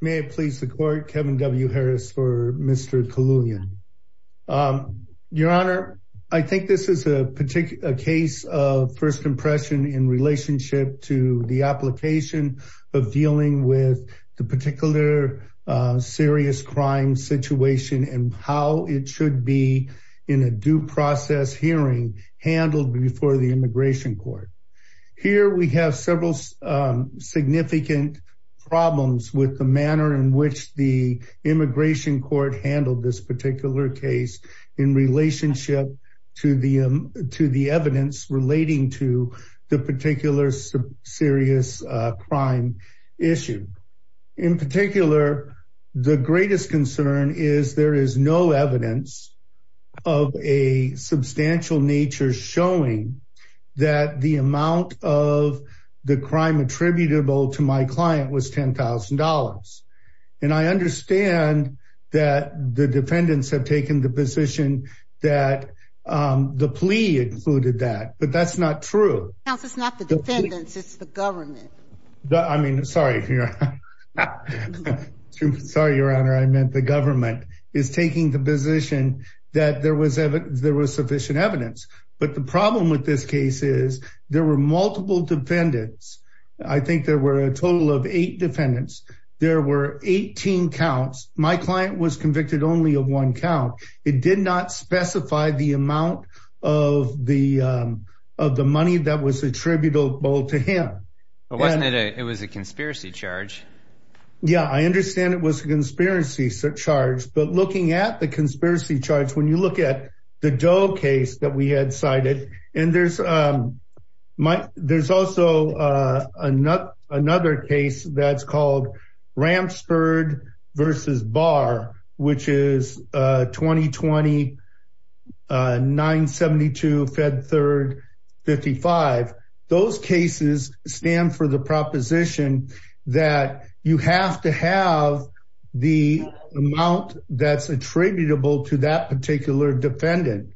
May it please the court Kevin W. Harris for Mr. Khalulyan. Your honor, I think this is a particular case of first impression in relationship to the application of dealing with the particular serious crime situation and how it should be in a due process hearing handled before the immigration court. Here we have several significant problems with the manner in which the immigration court handled this particular case in relationship to the to the evidence relating to the particular serious crime issue. In particular, the greatest concern is there is no evidence of a substantial nature showing that the amount of the crime attributable to my client was $10,000. And I understand that the defendants have taken the position that the plea included that but that's not true. It's not the defendants, it's the government. I mean, sorry. Sorry, Your Honor, I meant the government is taking the position that there was ever there was sufficient evidence, but the problem with this case is there were multiple defendants. I think there were a total of eight defendants. There were 18 counts. My client was convicted only of one count. It did not specify the amount of the of the money that was attributable to him. It was a conspiracy charge. Yeah, I understand it was a conspiracy charge. But looking at the conspiracy charge, when you look at the Doe case that we had cited, and there's also another case that's called Ramsford versus Barr, which is 2020-972-Fed3-55. Those cases stand for the proposition that you have to have the amount that's attributable to that particular defendant.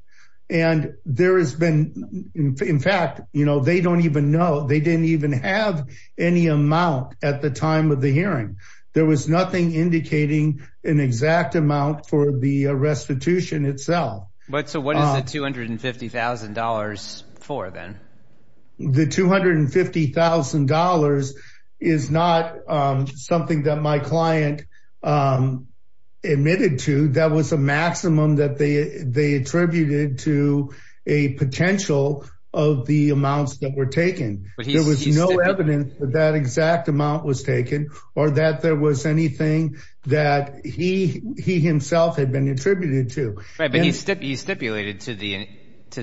And there has been, in fact, you know, they don't even know they didn't even have any amount at the time of the hearing. There was nothing indicating an exact amount for the restitution itself. So what is the $250,000 for then? The $250,000 is not something that my client admitted to. That was a maximum that they attributed to a potential of the amounts that were taken. There was no evidence that exact amount was taken or that there was anything that he himself had been attributed to. But he stipulated to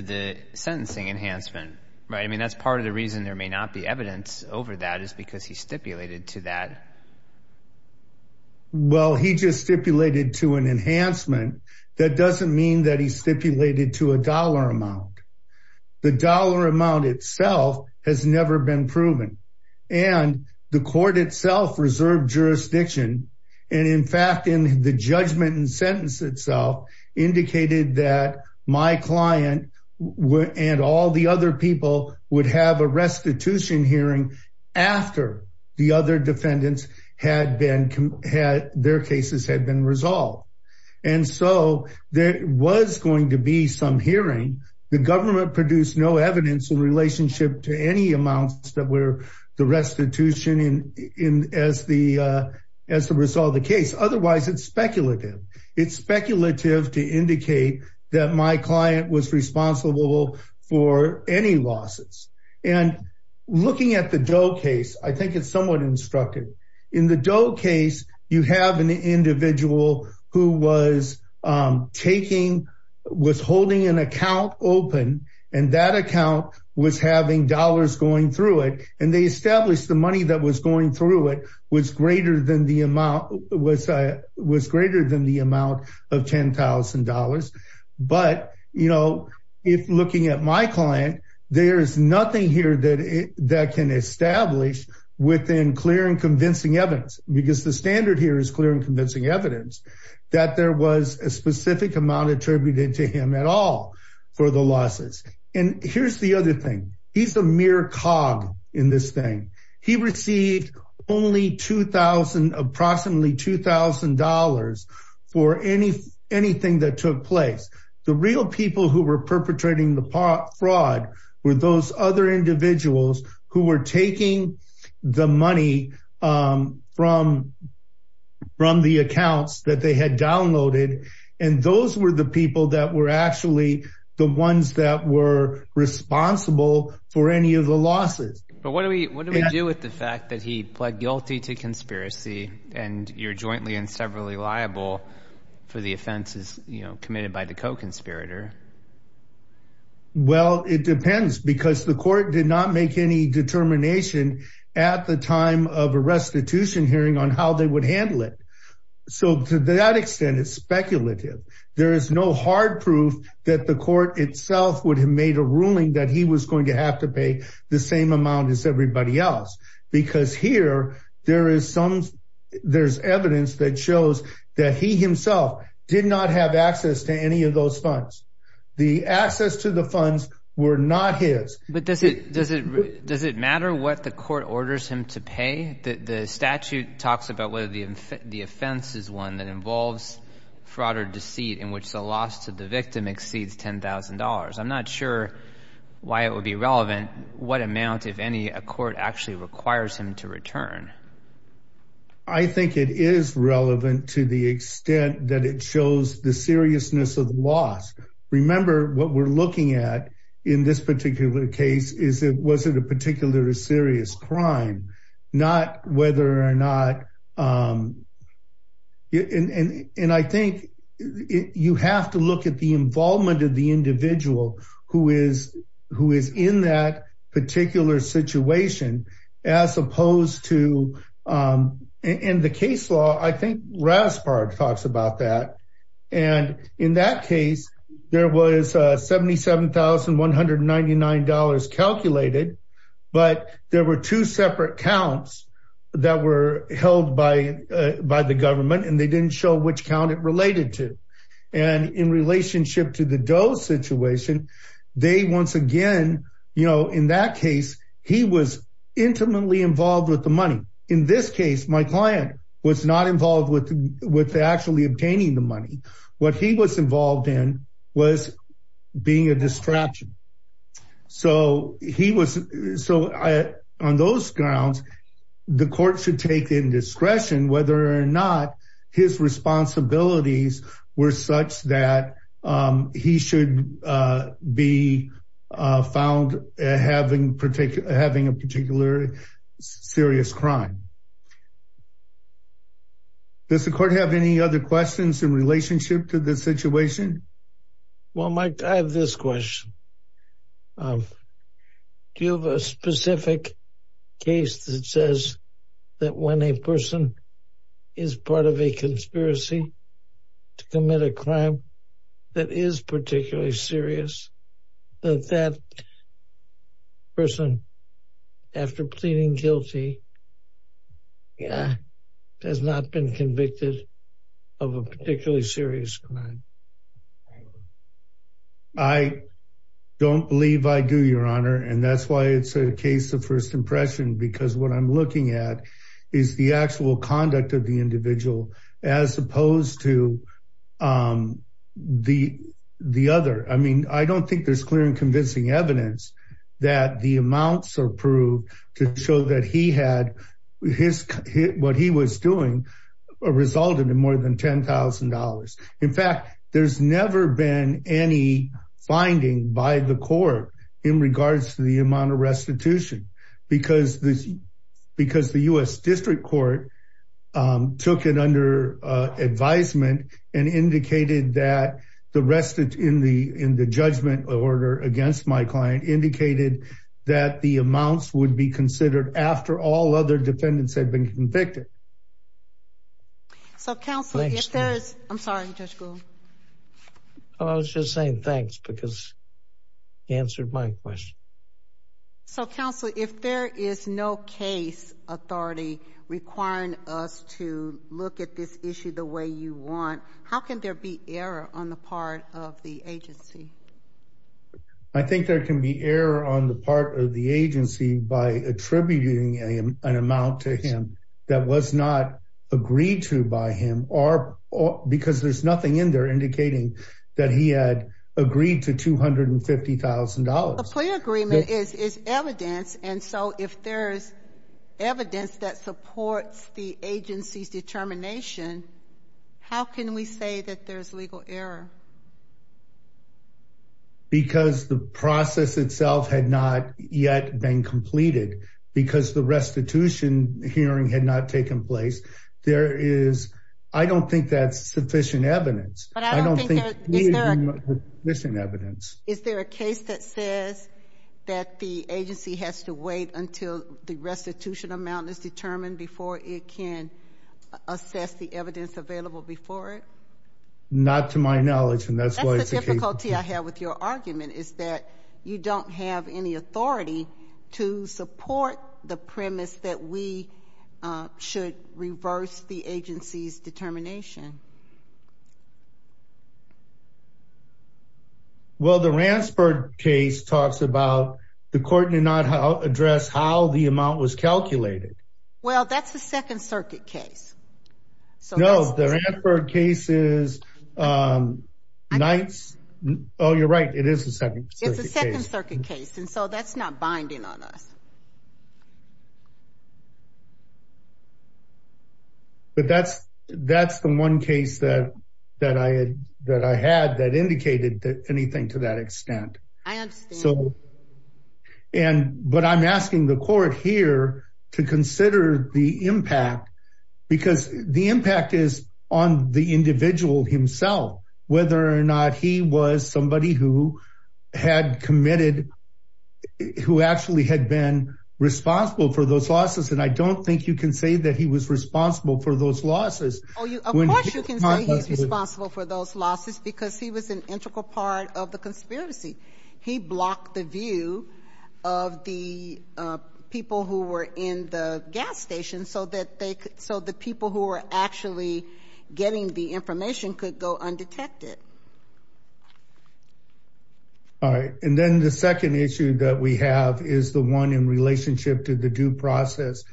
the sentencing enhancement, right? I mean, that's part of the reason there may not be evidence over that is because he stipulated to that. Well, he just stipulated to an enhancement. That doesn't mean that he stipulated to a dollar amount. The dollar amount itself has never been proven. And the court itself reserved jurisdiction. And in fact, in the judgment and sentence itself indicated that my client and all the other people would have a restitution hearing after the other defendants had their cases had been resolved. And so there was going to be some hearing. The government produced no evidence in relationship to any amounts that were the restitution in as the as the result of the case. Otherwise, it's speculative. It's speculative to indicate that my client was responsible for any losses. And looking at the Doe case, I think it's somewhat instructive. In the Doe case, you have an individual who was taking was holding an account open and that account was having dollars going through it. And they established the money that was going through it was greater than the amount was was greater than the amount of ten thousand dollars. But, you know, if looking at my client, there is nothing here that that can establish within clear and convincing evidence because the standard here is clear and convincing evidence that there was a specific amount attributed to him at all for the losses. And here's the other thing. He's a mere cog in this thing. He received only two thousand approximately two thousand dollars for any anything that took place. The real people who were perpetrating the fraud were those other individuals who were taking the money from from the accounts that they had downloaded. And those were the people that were actually the ones that were responsible for any of the losses. But what do we what do we do with the fact that he pled guilty to conspiracy and you're jointly and severally liable for the offenses committed by the co-conspirator? Well, it depends, because the court did not make any determination at the time of a restitution hearing on how they would handle it. So to that extent, it's speculative. There is no hard proof that the court itself would have made a ruling that he was going to have to pay the same amount as everybody else, because here there is some there's evidence that shows that he himself did not have access to any of those funds. The access to the funds were not his. But does it does it does it matter what the court orders him to pay? The statute talks about whether the offense is one that involves fraud or deceit in which the loss to the victim exceeds ten thousand dollars. I'm not sure why it would be relevant. What amount, if any, a court actually requires him to return? I think it is relevant to the extent that it shows the seriousness of the loss. Remember what we're looking at in this particular case is it wasn't a particular serious crime, not whether or not. And I think you have to look at the involvement of the individual who is who is in that particular situation, as opposed to in the case law. I think Raspard talks about that. And in that case, there was seventy seven thousand one hundred ninety nine dollars calculated. But there were two separate counts that were held by by the government and they didn't show which count it related to. And in relationship to the Doe situation, they once again, you know, in that case, he was intimately involved with the money. In this case, my client was not involved with with actually obtaining the money. What he was involved in was being a distraction. So he was. So on those grounds, the court should take indiscretion whether or not his responsibilities were such that he should be found having particular having a particular serious crime. Does the court have any other questions in relationship to the situation? Well, Mike, I have this question. Do you have a specific case that says that when a person is part of a conspiracy to commit a crime that is particularly serious? That person, after pleading guilty, has not been convicted of a particularly serious crime. I don't believe I do, Your Honor, and that's why it's a case of first impression, because what I'm looking at is the actual conduct of the individual as opposed to the the other. I mean, I don't think there's clear and convincing evidence that the amounts are proved to show that he had his what he was doing resulted in more than ten thousand dollars. In fact, there's never been any finding by the court in regards to the amount of restitution because this because the U.S. District Court took it under advisement and indicated that the rest in the in the judgment order against my client indicated that the amounts would be considered after all other defendants had been convicted. So, Counselor, if there is no case authority requiring us to look at this issue the way you want, how can there be error on the part of the agency? I think there can be error on the part of the agency by attributing an amount to him that was not agreed to by him or because there's nothing in there indicating that he had agreed to two hundred and fifty thousand dollars. The clear agreement is is evidence. And so if there's evidence that supports the agency's determination, how can we say that there's legal error? Because the process itself had not yet been completed because the restitution hearing had not taken place. There is I don't think that's sufficient evidence. But I don't think there's any missing evidence. Is there a case that says that the agency has to wait until the restitution amount is determined before it can assess the evidence available before it? Not to my knowledge. And that's the difficulty I have with your argument is that you don't have any authority to support the premise that we should reverse the agency's determination. Well, the Ransford case talks about the court did not address how the amount was calculated. Well, that's the Second Circuit case. So, no, the Ransford case is nights. Oh, you're right. It is a second. It's a second circuit case. And so that's not binding on us. But that's that's the one case that that I had that I had that indicated that anything to that extent. I understand. So and but I'm asking the court here to consider the impact because the impact is on the individual himself. Whether or not he was somebody who had committed who actually had been responsible for those losses. And I don't think you can say that he was responsible for those losses. Oh, you can say he's responsible for those losses because he was an integral part of the conspiracy. He blocked the view of the people who were in the gas station so that they could. So the people who are actually getting the information could go undetected. All right. And then the second issue that we have is the one in relationship to the due process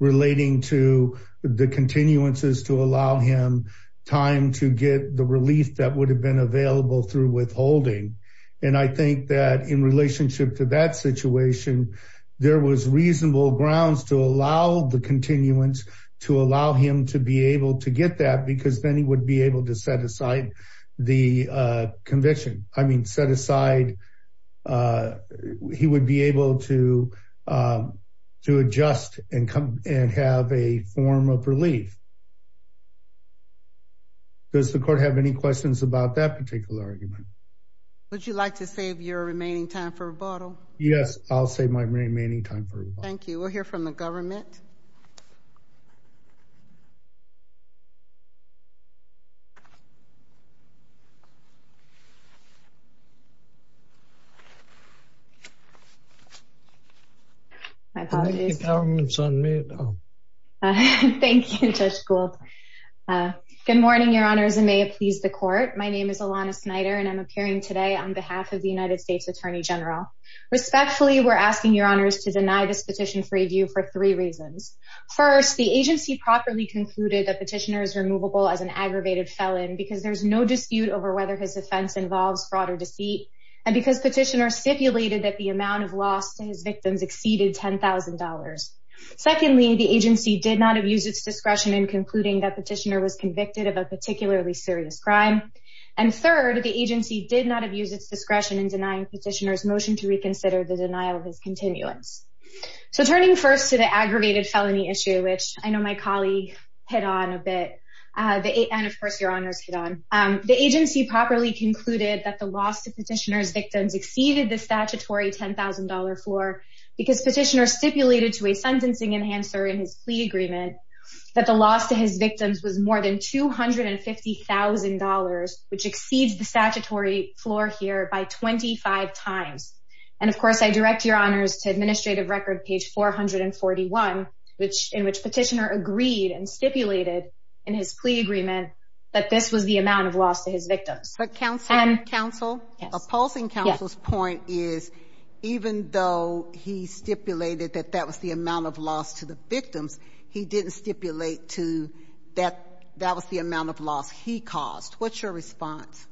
relating to the continuances to allow him time to get the relief that would have been available through withholding. And I think that in relationship to that situation, there was reasonable grounds to allow the continuance to allow him to be able to get that because then he would be able to set aside the conviction. I mean, set aside. He would be able to to adjust and come and have a form of relief. Does the court have any questions about that particular argument? Would you like to save your remaining time for rebuttal? Yes, I'll save my remaining time. Thank you. We'll hear from the government. I'm sorry. Thank you, Judge Gould. Good morning, Your Honors. My name is Alana Snyder and I'm appearing today on behalf of the United States Attorney General. Respectfully, we're asking Your Honors to deny this petition for review for three reasons. First, the agency properly concluded that petitioner is removable as an aggravated felon because there's no dispute over whether his offense involves fraud or deceit. And because petitioner stipulated that the amount of loss to his victims exceeded $10,000. Secondly, the agency did not abuse its discretion in concluding that petitioner was convicted of a particularly serious crime. And third, the agency did not abuse its discretion in denying petitioner's motion to reconsider the denial of his continuance. So turning first to the aggravated felony issue, which I know my colleague hit on a bit, and of course, Your Honors hit on, the agency properly concluded that the loss to petitioner's victims exceeded the statutory $10,000 floor because petitioner stipulated to a sentencing enhancer in his plea agreement that the loss to his victims was more than $250,000, which exceeds the statutory floor here by 25 times. And of course, I direct Your Honors to administrative record page 441, in which petitioner agreed and stipulated in his plea agreement that this was the amount of loss to his victims. But counsel, opposing counsel's point is even though he stipulated that that was the amount of loss to the victims, he didn't stipulate that that was the amount of loss he caused. What's your response?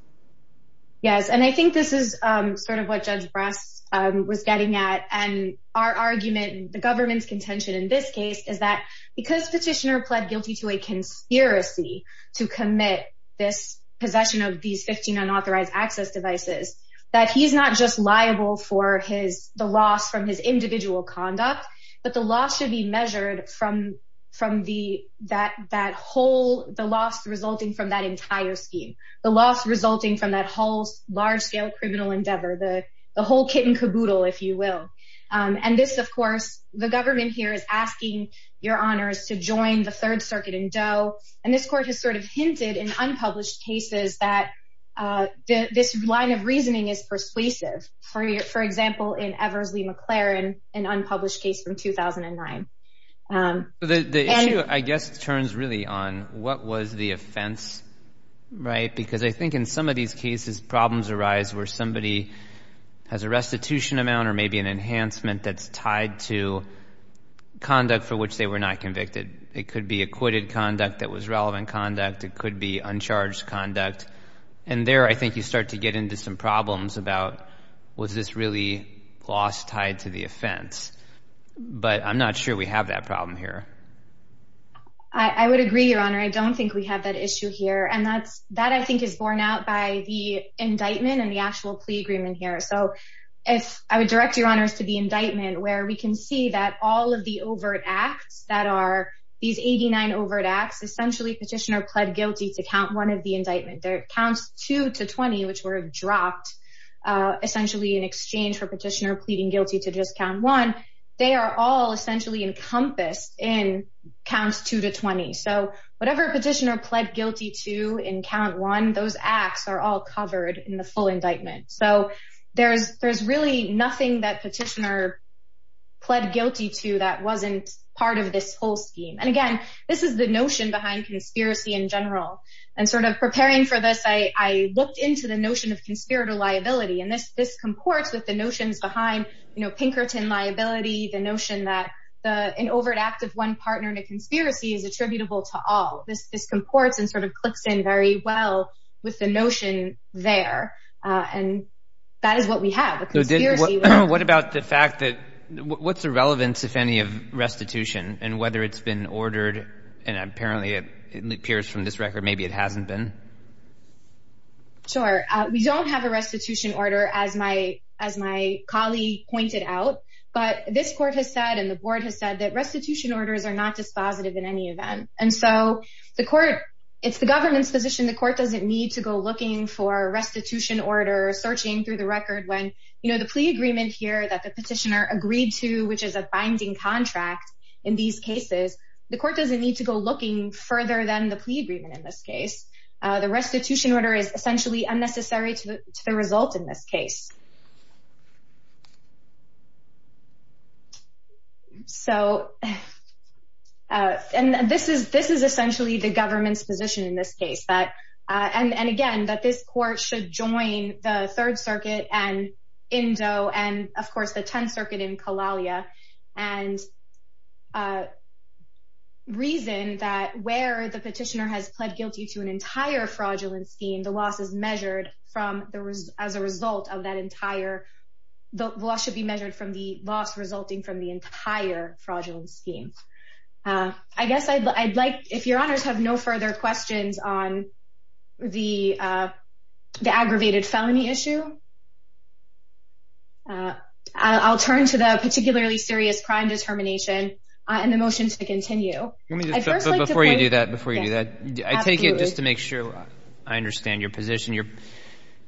Yes, and I think this is sort of what Judge Brass was getting at. And our argument, the government's contention in this case, is that because petitioner pled guilty to a conspiracy to commit this possession of these 15 unauthorized access devices, that he's not just liable for the loss from his individual conduct, but the loss should be measured from that whole, the loss resulting from that entire scheme. The loss resulting from that whole large-scale criminal endeavor, the whole kit and caboodle, if you will. And this, of course, the government here is asking Your Honors to join the Third Circuit in Doe. And this court has sort of hinted in unpublished cases that this line of reasoning is persuasive. For example, in Eversley McLaren, an unpublished case from 2009. The issue, I guess, turns really on what was the offense, right? Because I think in some of these cases, problems arise where somebody has a restitution amount or maybe an enhancement that's tied to conduct for which they were not convicted. It could be acquitted conduct that was relevant conduct. It could be uncharged conduct. And there, I think, you start to get into some problems about was this really loss tied to the offense. But I'm not sure we have that problem here. I would agree, Your Honor. I don't think we have that issue here. And that, I think, is borne out by the indictment and the actual plea agreement here. So I would direct Your Honors to the indictment where we can see that all of the overt acts that are these 89 overt acts, essentially petitioner pled guilty to count one of the indictment. Counts two to 20, which were dropped, essentially in exchange for petitioner pleading guilty to just count one, they are all essentially encompassed in counts two to 20. So whatever petitioner pled guilty to in count one, those acts are all covered in the full indictment. So there's really nothing that petitioner pled guilty to that wasn't part of this whole scheme. And again, this is the notion behind conspiracy in general. And sort of preparing for this, I looked into the notion of conspirator liability. And this comports with the notions behind Pinkerton liability, the notion that an overt act of one partner in a conspiracy is attributable to all. This comports and sort of clicks in very well with the notion there. What about the fact that what's the relevance, if any, of restitution and whether it's been ordered? And apparently it appears from this record maybe it hasn't been. Sure. We don't have a restitution order, as my colleague pointed out. But this court has said and the board has said that restitution orders are not dispositive in any event. And so the court, it's the government's position, the court doesn't need to go looking for a restitution order or searching through the record when, you know, the plea agreement here that the petitioner agreed to, which is a binding contract in these cases, the court doesn't need to go looking further than the plea agreement in this case. The restitution order is essentially unnecessary to the result in this case. So, and this is essentially the government's position in this case. And again, that this court should join the Third Circuit and Indoe and, of course, the Tenth Circuit in Kalalia and reason that where the petitioner has pled guilty to an entire fraudulent scheme, the loss is measured as a result of that entire, the loss should be measured from the loss resulting from the entire fraudulent scheme. I guess I'd like, if your honors have no further questions on the aggravated felony issue, I'll turn to the particularly serious crime determination and the motion to continue. Before you do that, before you do that, I take it just to make sure I understand your position.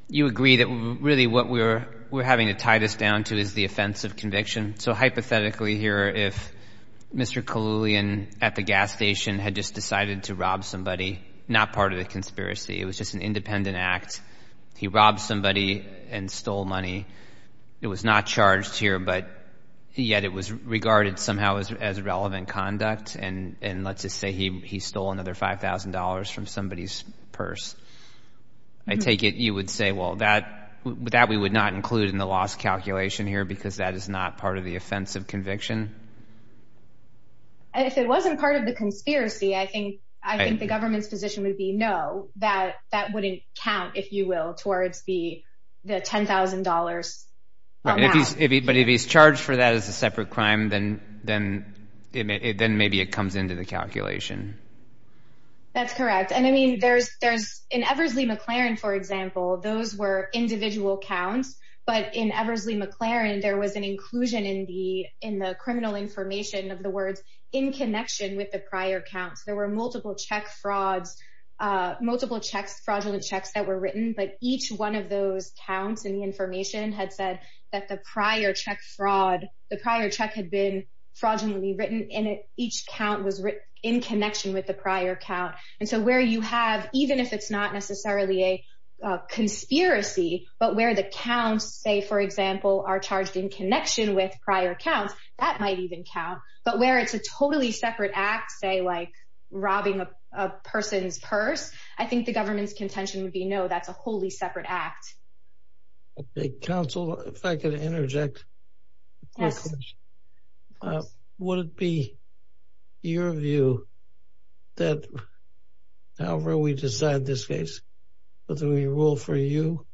You agree that really what we're having to tie this down to is the offense of conviction. So hypothetically here, if Mr. Kahloulian at the gas station had just decided to rob somebody, not part of the conspiracy, it was just an independent act. He robbed somebody and stole money. It was not charged here, but yet it was regarded somehow as relevant conduct. And let's just say he stole another $5,000 from somebody's purse. I take it you would say, well, that we would not include in the loss calculation here because that is not part of the offense of conviction. If it wasn't part of the conspiracy, I think the government's position would be no, that wouldn't count, if you will, towards the $10,000 amount. But if he's charged for that as a separate crime, then maybe it comes into the calculation. That's correct. And I mean, in Eversley McLaren, for example, those were individual counts. But in Eversley McLaren, there was an inclusion in the criminal information of the words, in connection with the prior counts. There were multiple check frauds, multiple fraudulent checks that were written. But each one of those counts in the information had said that the prior check fraud, the prior check had been fraudulently written, and each count was in connection with the prior count. And so where you have, even if it's not necessarily a conspiracy, but where the counts, say, for example, are charged in connection with prior counts, that might even count. But where it's a totally separate act, say, like robbing a person's purse, I think the government's contention would be no, that's a wholly separate act. Counsel, if I could interject. Yes. Would it be your view that however we decide this case, whether we rule for you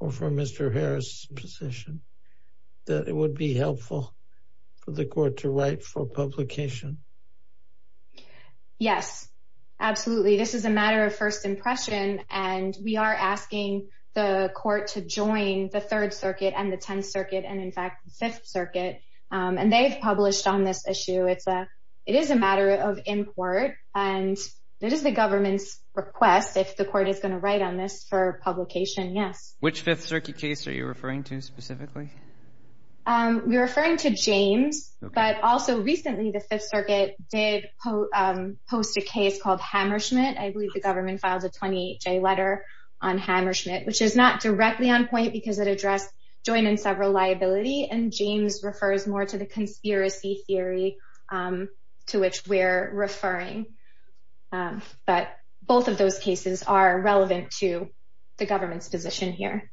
or for Mr. Harris's position, that it would be helpful for the court to write for publication? Yes, absolutely. This is a matter of first impression, and we are asking the court to join the Third Circuit and the Tenth Circuit and, in fact, the Fifth Circuit. And they've published on this issue. It is a matter of import, and it is the government's request, if the court is going to write on this, for publication, yes. Which Fifth Circuit case are you referring to specifically? We're referring to James, but also recently the Fifth Circuit did post a case called Hammerschmidt. I believe the government filed a 28-J letter on Hammerschmidt, which is not directly on point because it addressed joint and several liability, and James refers more to the conspiracy theory to which we're referring. But both of those cases are relevant to the government's position here.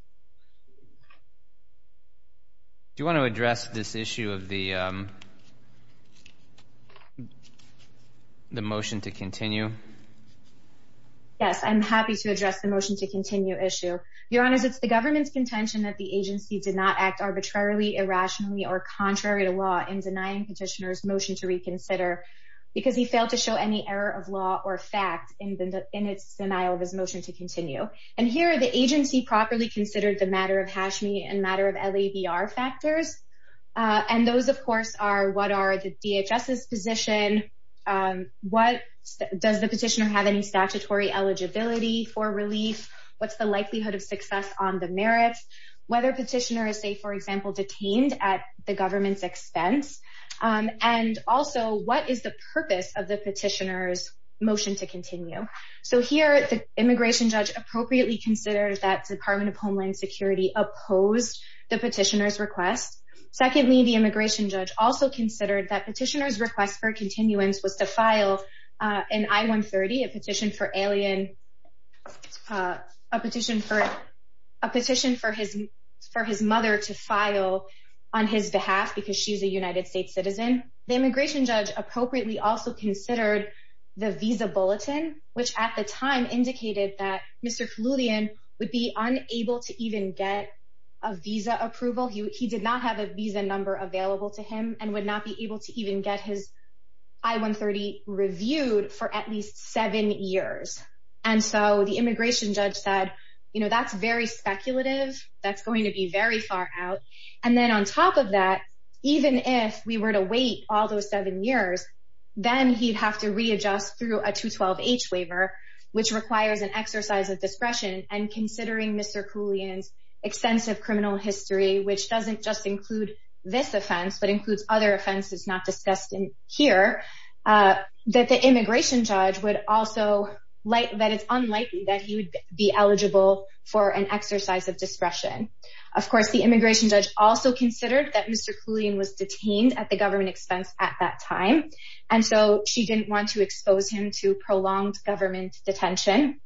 Do you want to address this issue of the motion to continue? Yes, I'm happy to address the motion to continue issue. Your Honor, it's the government's contention that the agency did not act arbitrarily, irrationally, or contrary to law in denying Petitioner's motion to reconsider because he failed to show any error of law or fact in its denial of his motion to continue. And here, the agency properly considered the matter of Hashmi and matter of LABR factors, and those, of course, are what are the DHS's position? Does the Petitioner have any statutory eligibility for relief? What's the likelihood of success on the merits? Whether Petitioner is, say, for example, detained at the government's expense? And also, what is the purpose of the Petitioner's motion to continue? So here, the immigration judge appropriately considered that Department of Homeland Security opposed the Petitioner's request. Secondly, the immigration judge also considered that Petitioner's request for continuance was to file an I-130, a petition for his mother to file on his behalf because she's a United States citizen. And then, the immigration judge appropriately also considered the visa bulletin, which at the time indicated that Mr. Flutian would be unable to even get a visa approval. He did not have a visa number available to him and would not be able to even get his I-130 reviewed for at least seven years. And so the immigration judge said, you know, that's very speculative. That's going to be very far out. And then, on top of that, even if we were to wait all those seven years, then he'd have to readjust through a 212H waiver, which requires an exercise of discretion. And considering Mr. Koulian's extensive criminal history, which doesn't just include this offense but includes other offenses not discussed here, that the immigration judge would also – that it's unlikely that he would be eligible for an exercise of discretion. Of course, the immigration judge also considered that Mr. Koulian was detained at the government expense at that time. And so she didn't want to expose him to prolonged government detention.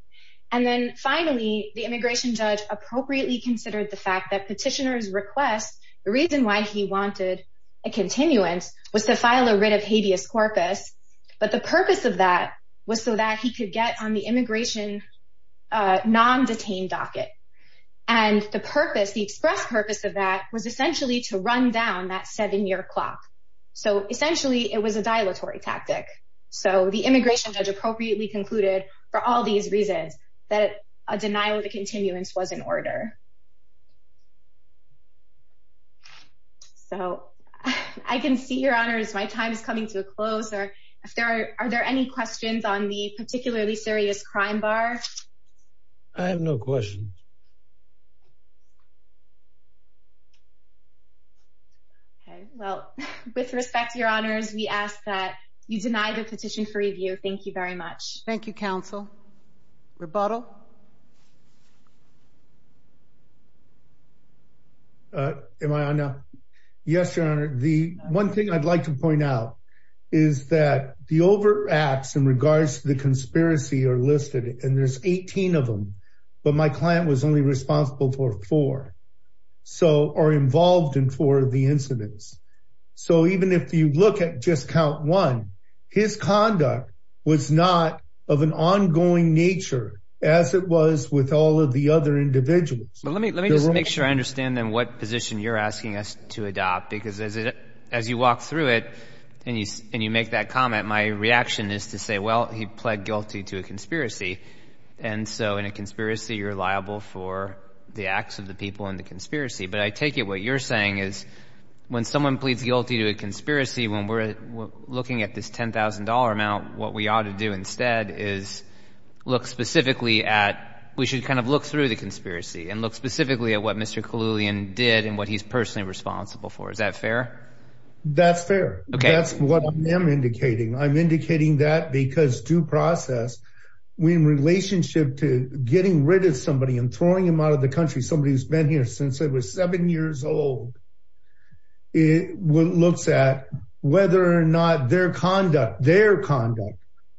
And then, finally, the immigration judge appropriately considered the fact that petitioner's request – the reason why he wanted a continuance was to file a writ of habeas corpus. But the purpose of that was so that he could get on the immigration non-detained docket. And the purpose – the express purpose of that was essentially to run down that seven-year clock. So, essentially, it was a dilatory tactic. So the immigration judge appropriately concluded, for all these reasons, that a denial of the continuance was in order. So I can see, Your Honors, my time is coming to a close. Are there any questions on the particularly serious crime bar? I have no questions. Okay. Well, with respect, Your Honors, we ask that you deny the petition for review. Thank you very much. Thank you, counsel. Rebuttal? Am I on now? Yes, Your Honor. One thing I'd like to point out is that the overacts in regards to the conspiracy are listed, and there's 18 of them. But my client was only responsible for four. So – or involved in four of the incidents. So even if you look at just count one, his conduct was not of an ongoing nature as it was with all of the other individuals. But let me just make sure I understand, then, what position you're asking us to adopt. Because as you walk through it and you make that comment, my reaction is to say, well, he pled guilty to a conspiracy. And so in a conspiracy, you're liable for the acts of the people in the conspiracy. But I take it what you're saying is when someone pleads guilty to a conspiracy, when we're looking at this $10,000 amount, what we ought to do instead is look specifically at – we should kind of look through the conspiracy and look specifically at what Mr. Kahloulian did and what he's personally responsible for. Is that fair? That's fair. Okay. That's what I am indicating. I'm indicating that because due process, in relationship to getting rid of somebody and throwing them out of the country, somebody who's been here since they were seven years old, looks at whether or not their conduct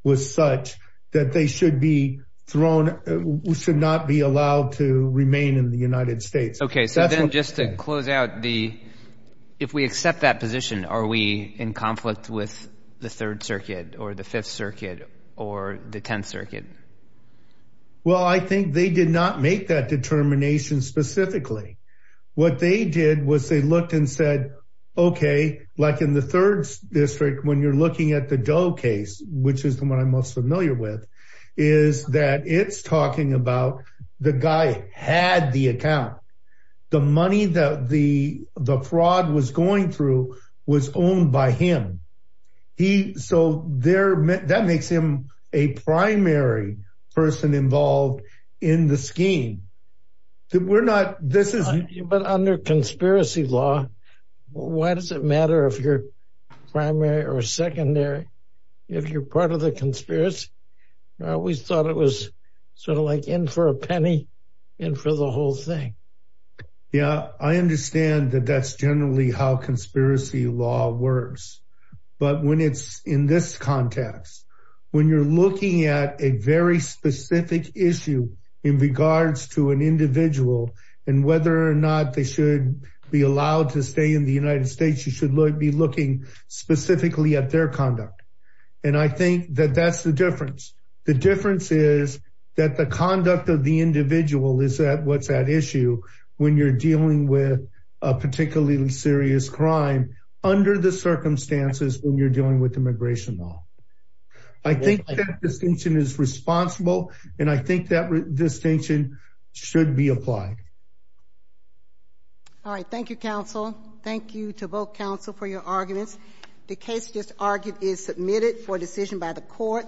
was such that they should be thrown – should not be allowed to remain in the United States. Okay. So then just to close out, if we accept that position, are we in conflict with the Third Circuit or the Fifth Circuit or the Tenth Circuit? Well, I think they did not make that determination specifically. What they did was they looked and said, okay, like in the Third District, when you're looking at the Doe case, which is the one I'm most familiar with, is that it's talking about the guy had the account. The money that the fraud was going through was owned by him. So that makes him a primary person involved in the scheme. But under conspiracy law, why does it matter if you're primary or secondary if you're part of the conspiracy? We thought it was sort of like in for a penny, in for the whole thing. Yeah, I understand that that's generally how conspiracy law works. But when it's in this context, when you're looking at a very specific issue in regards to an individual and whether or not they should be allowed to stay in the United States, you should be looking specifically at their conduct. And I think that that's the difference. The difference is that the conduct of the individual is what's at issue when you're dealing with a particularly serious crime under the circumstances when you're dealing with immigration law. I think that distinction is responsible, and I think that distinction should be applied. All right, thank you, counsel. Thank you to both counsel for your arguments. The case just argued is submitted for decision by the court.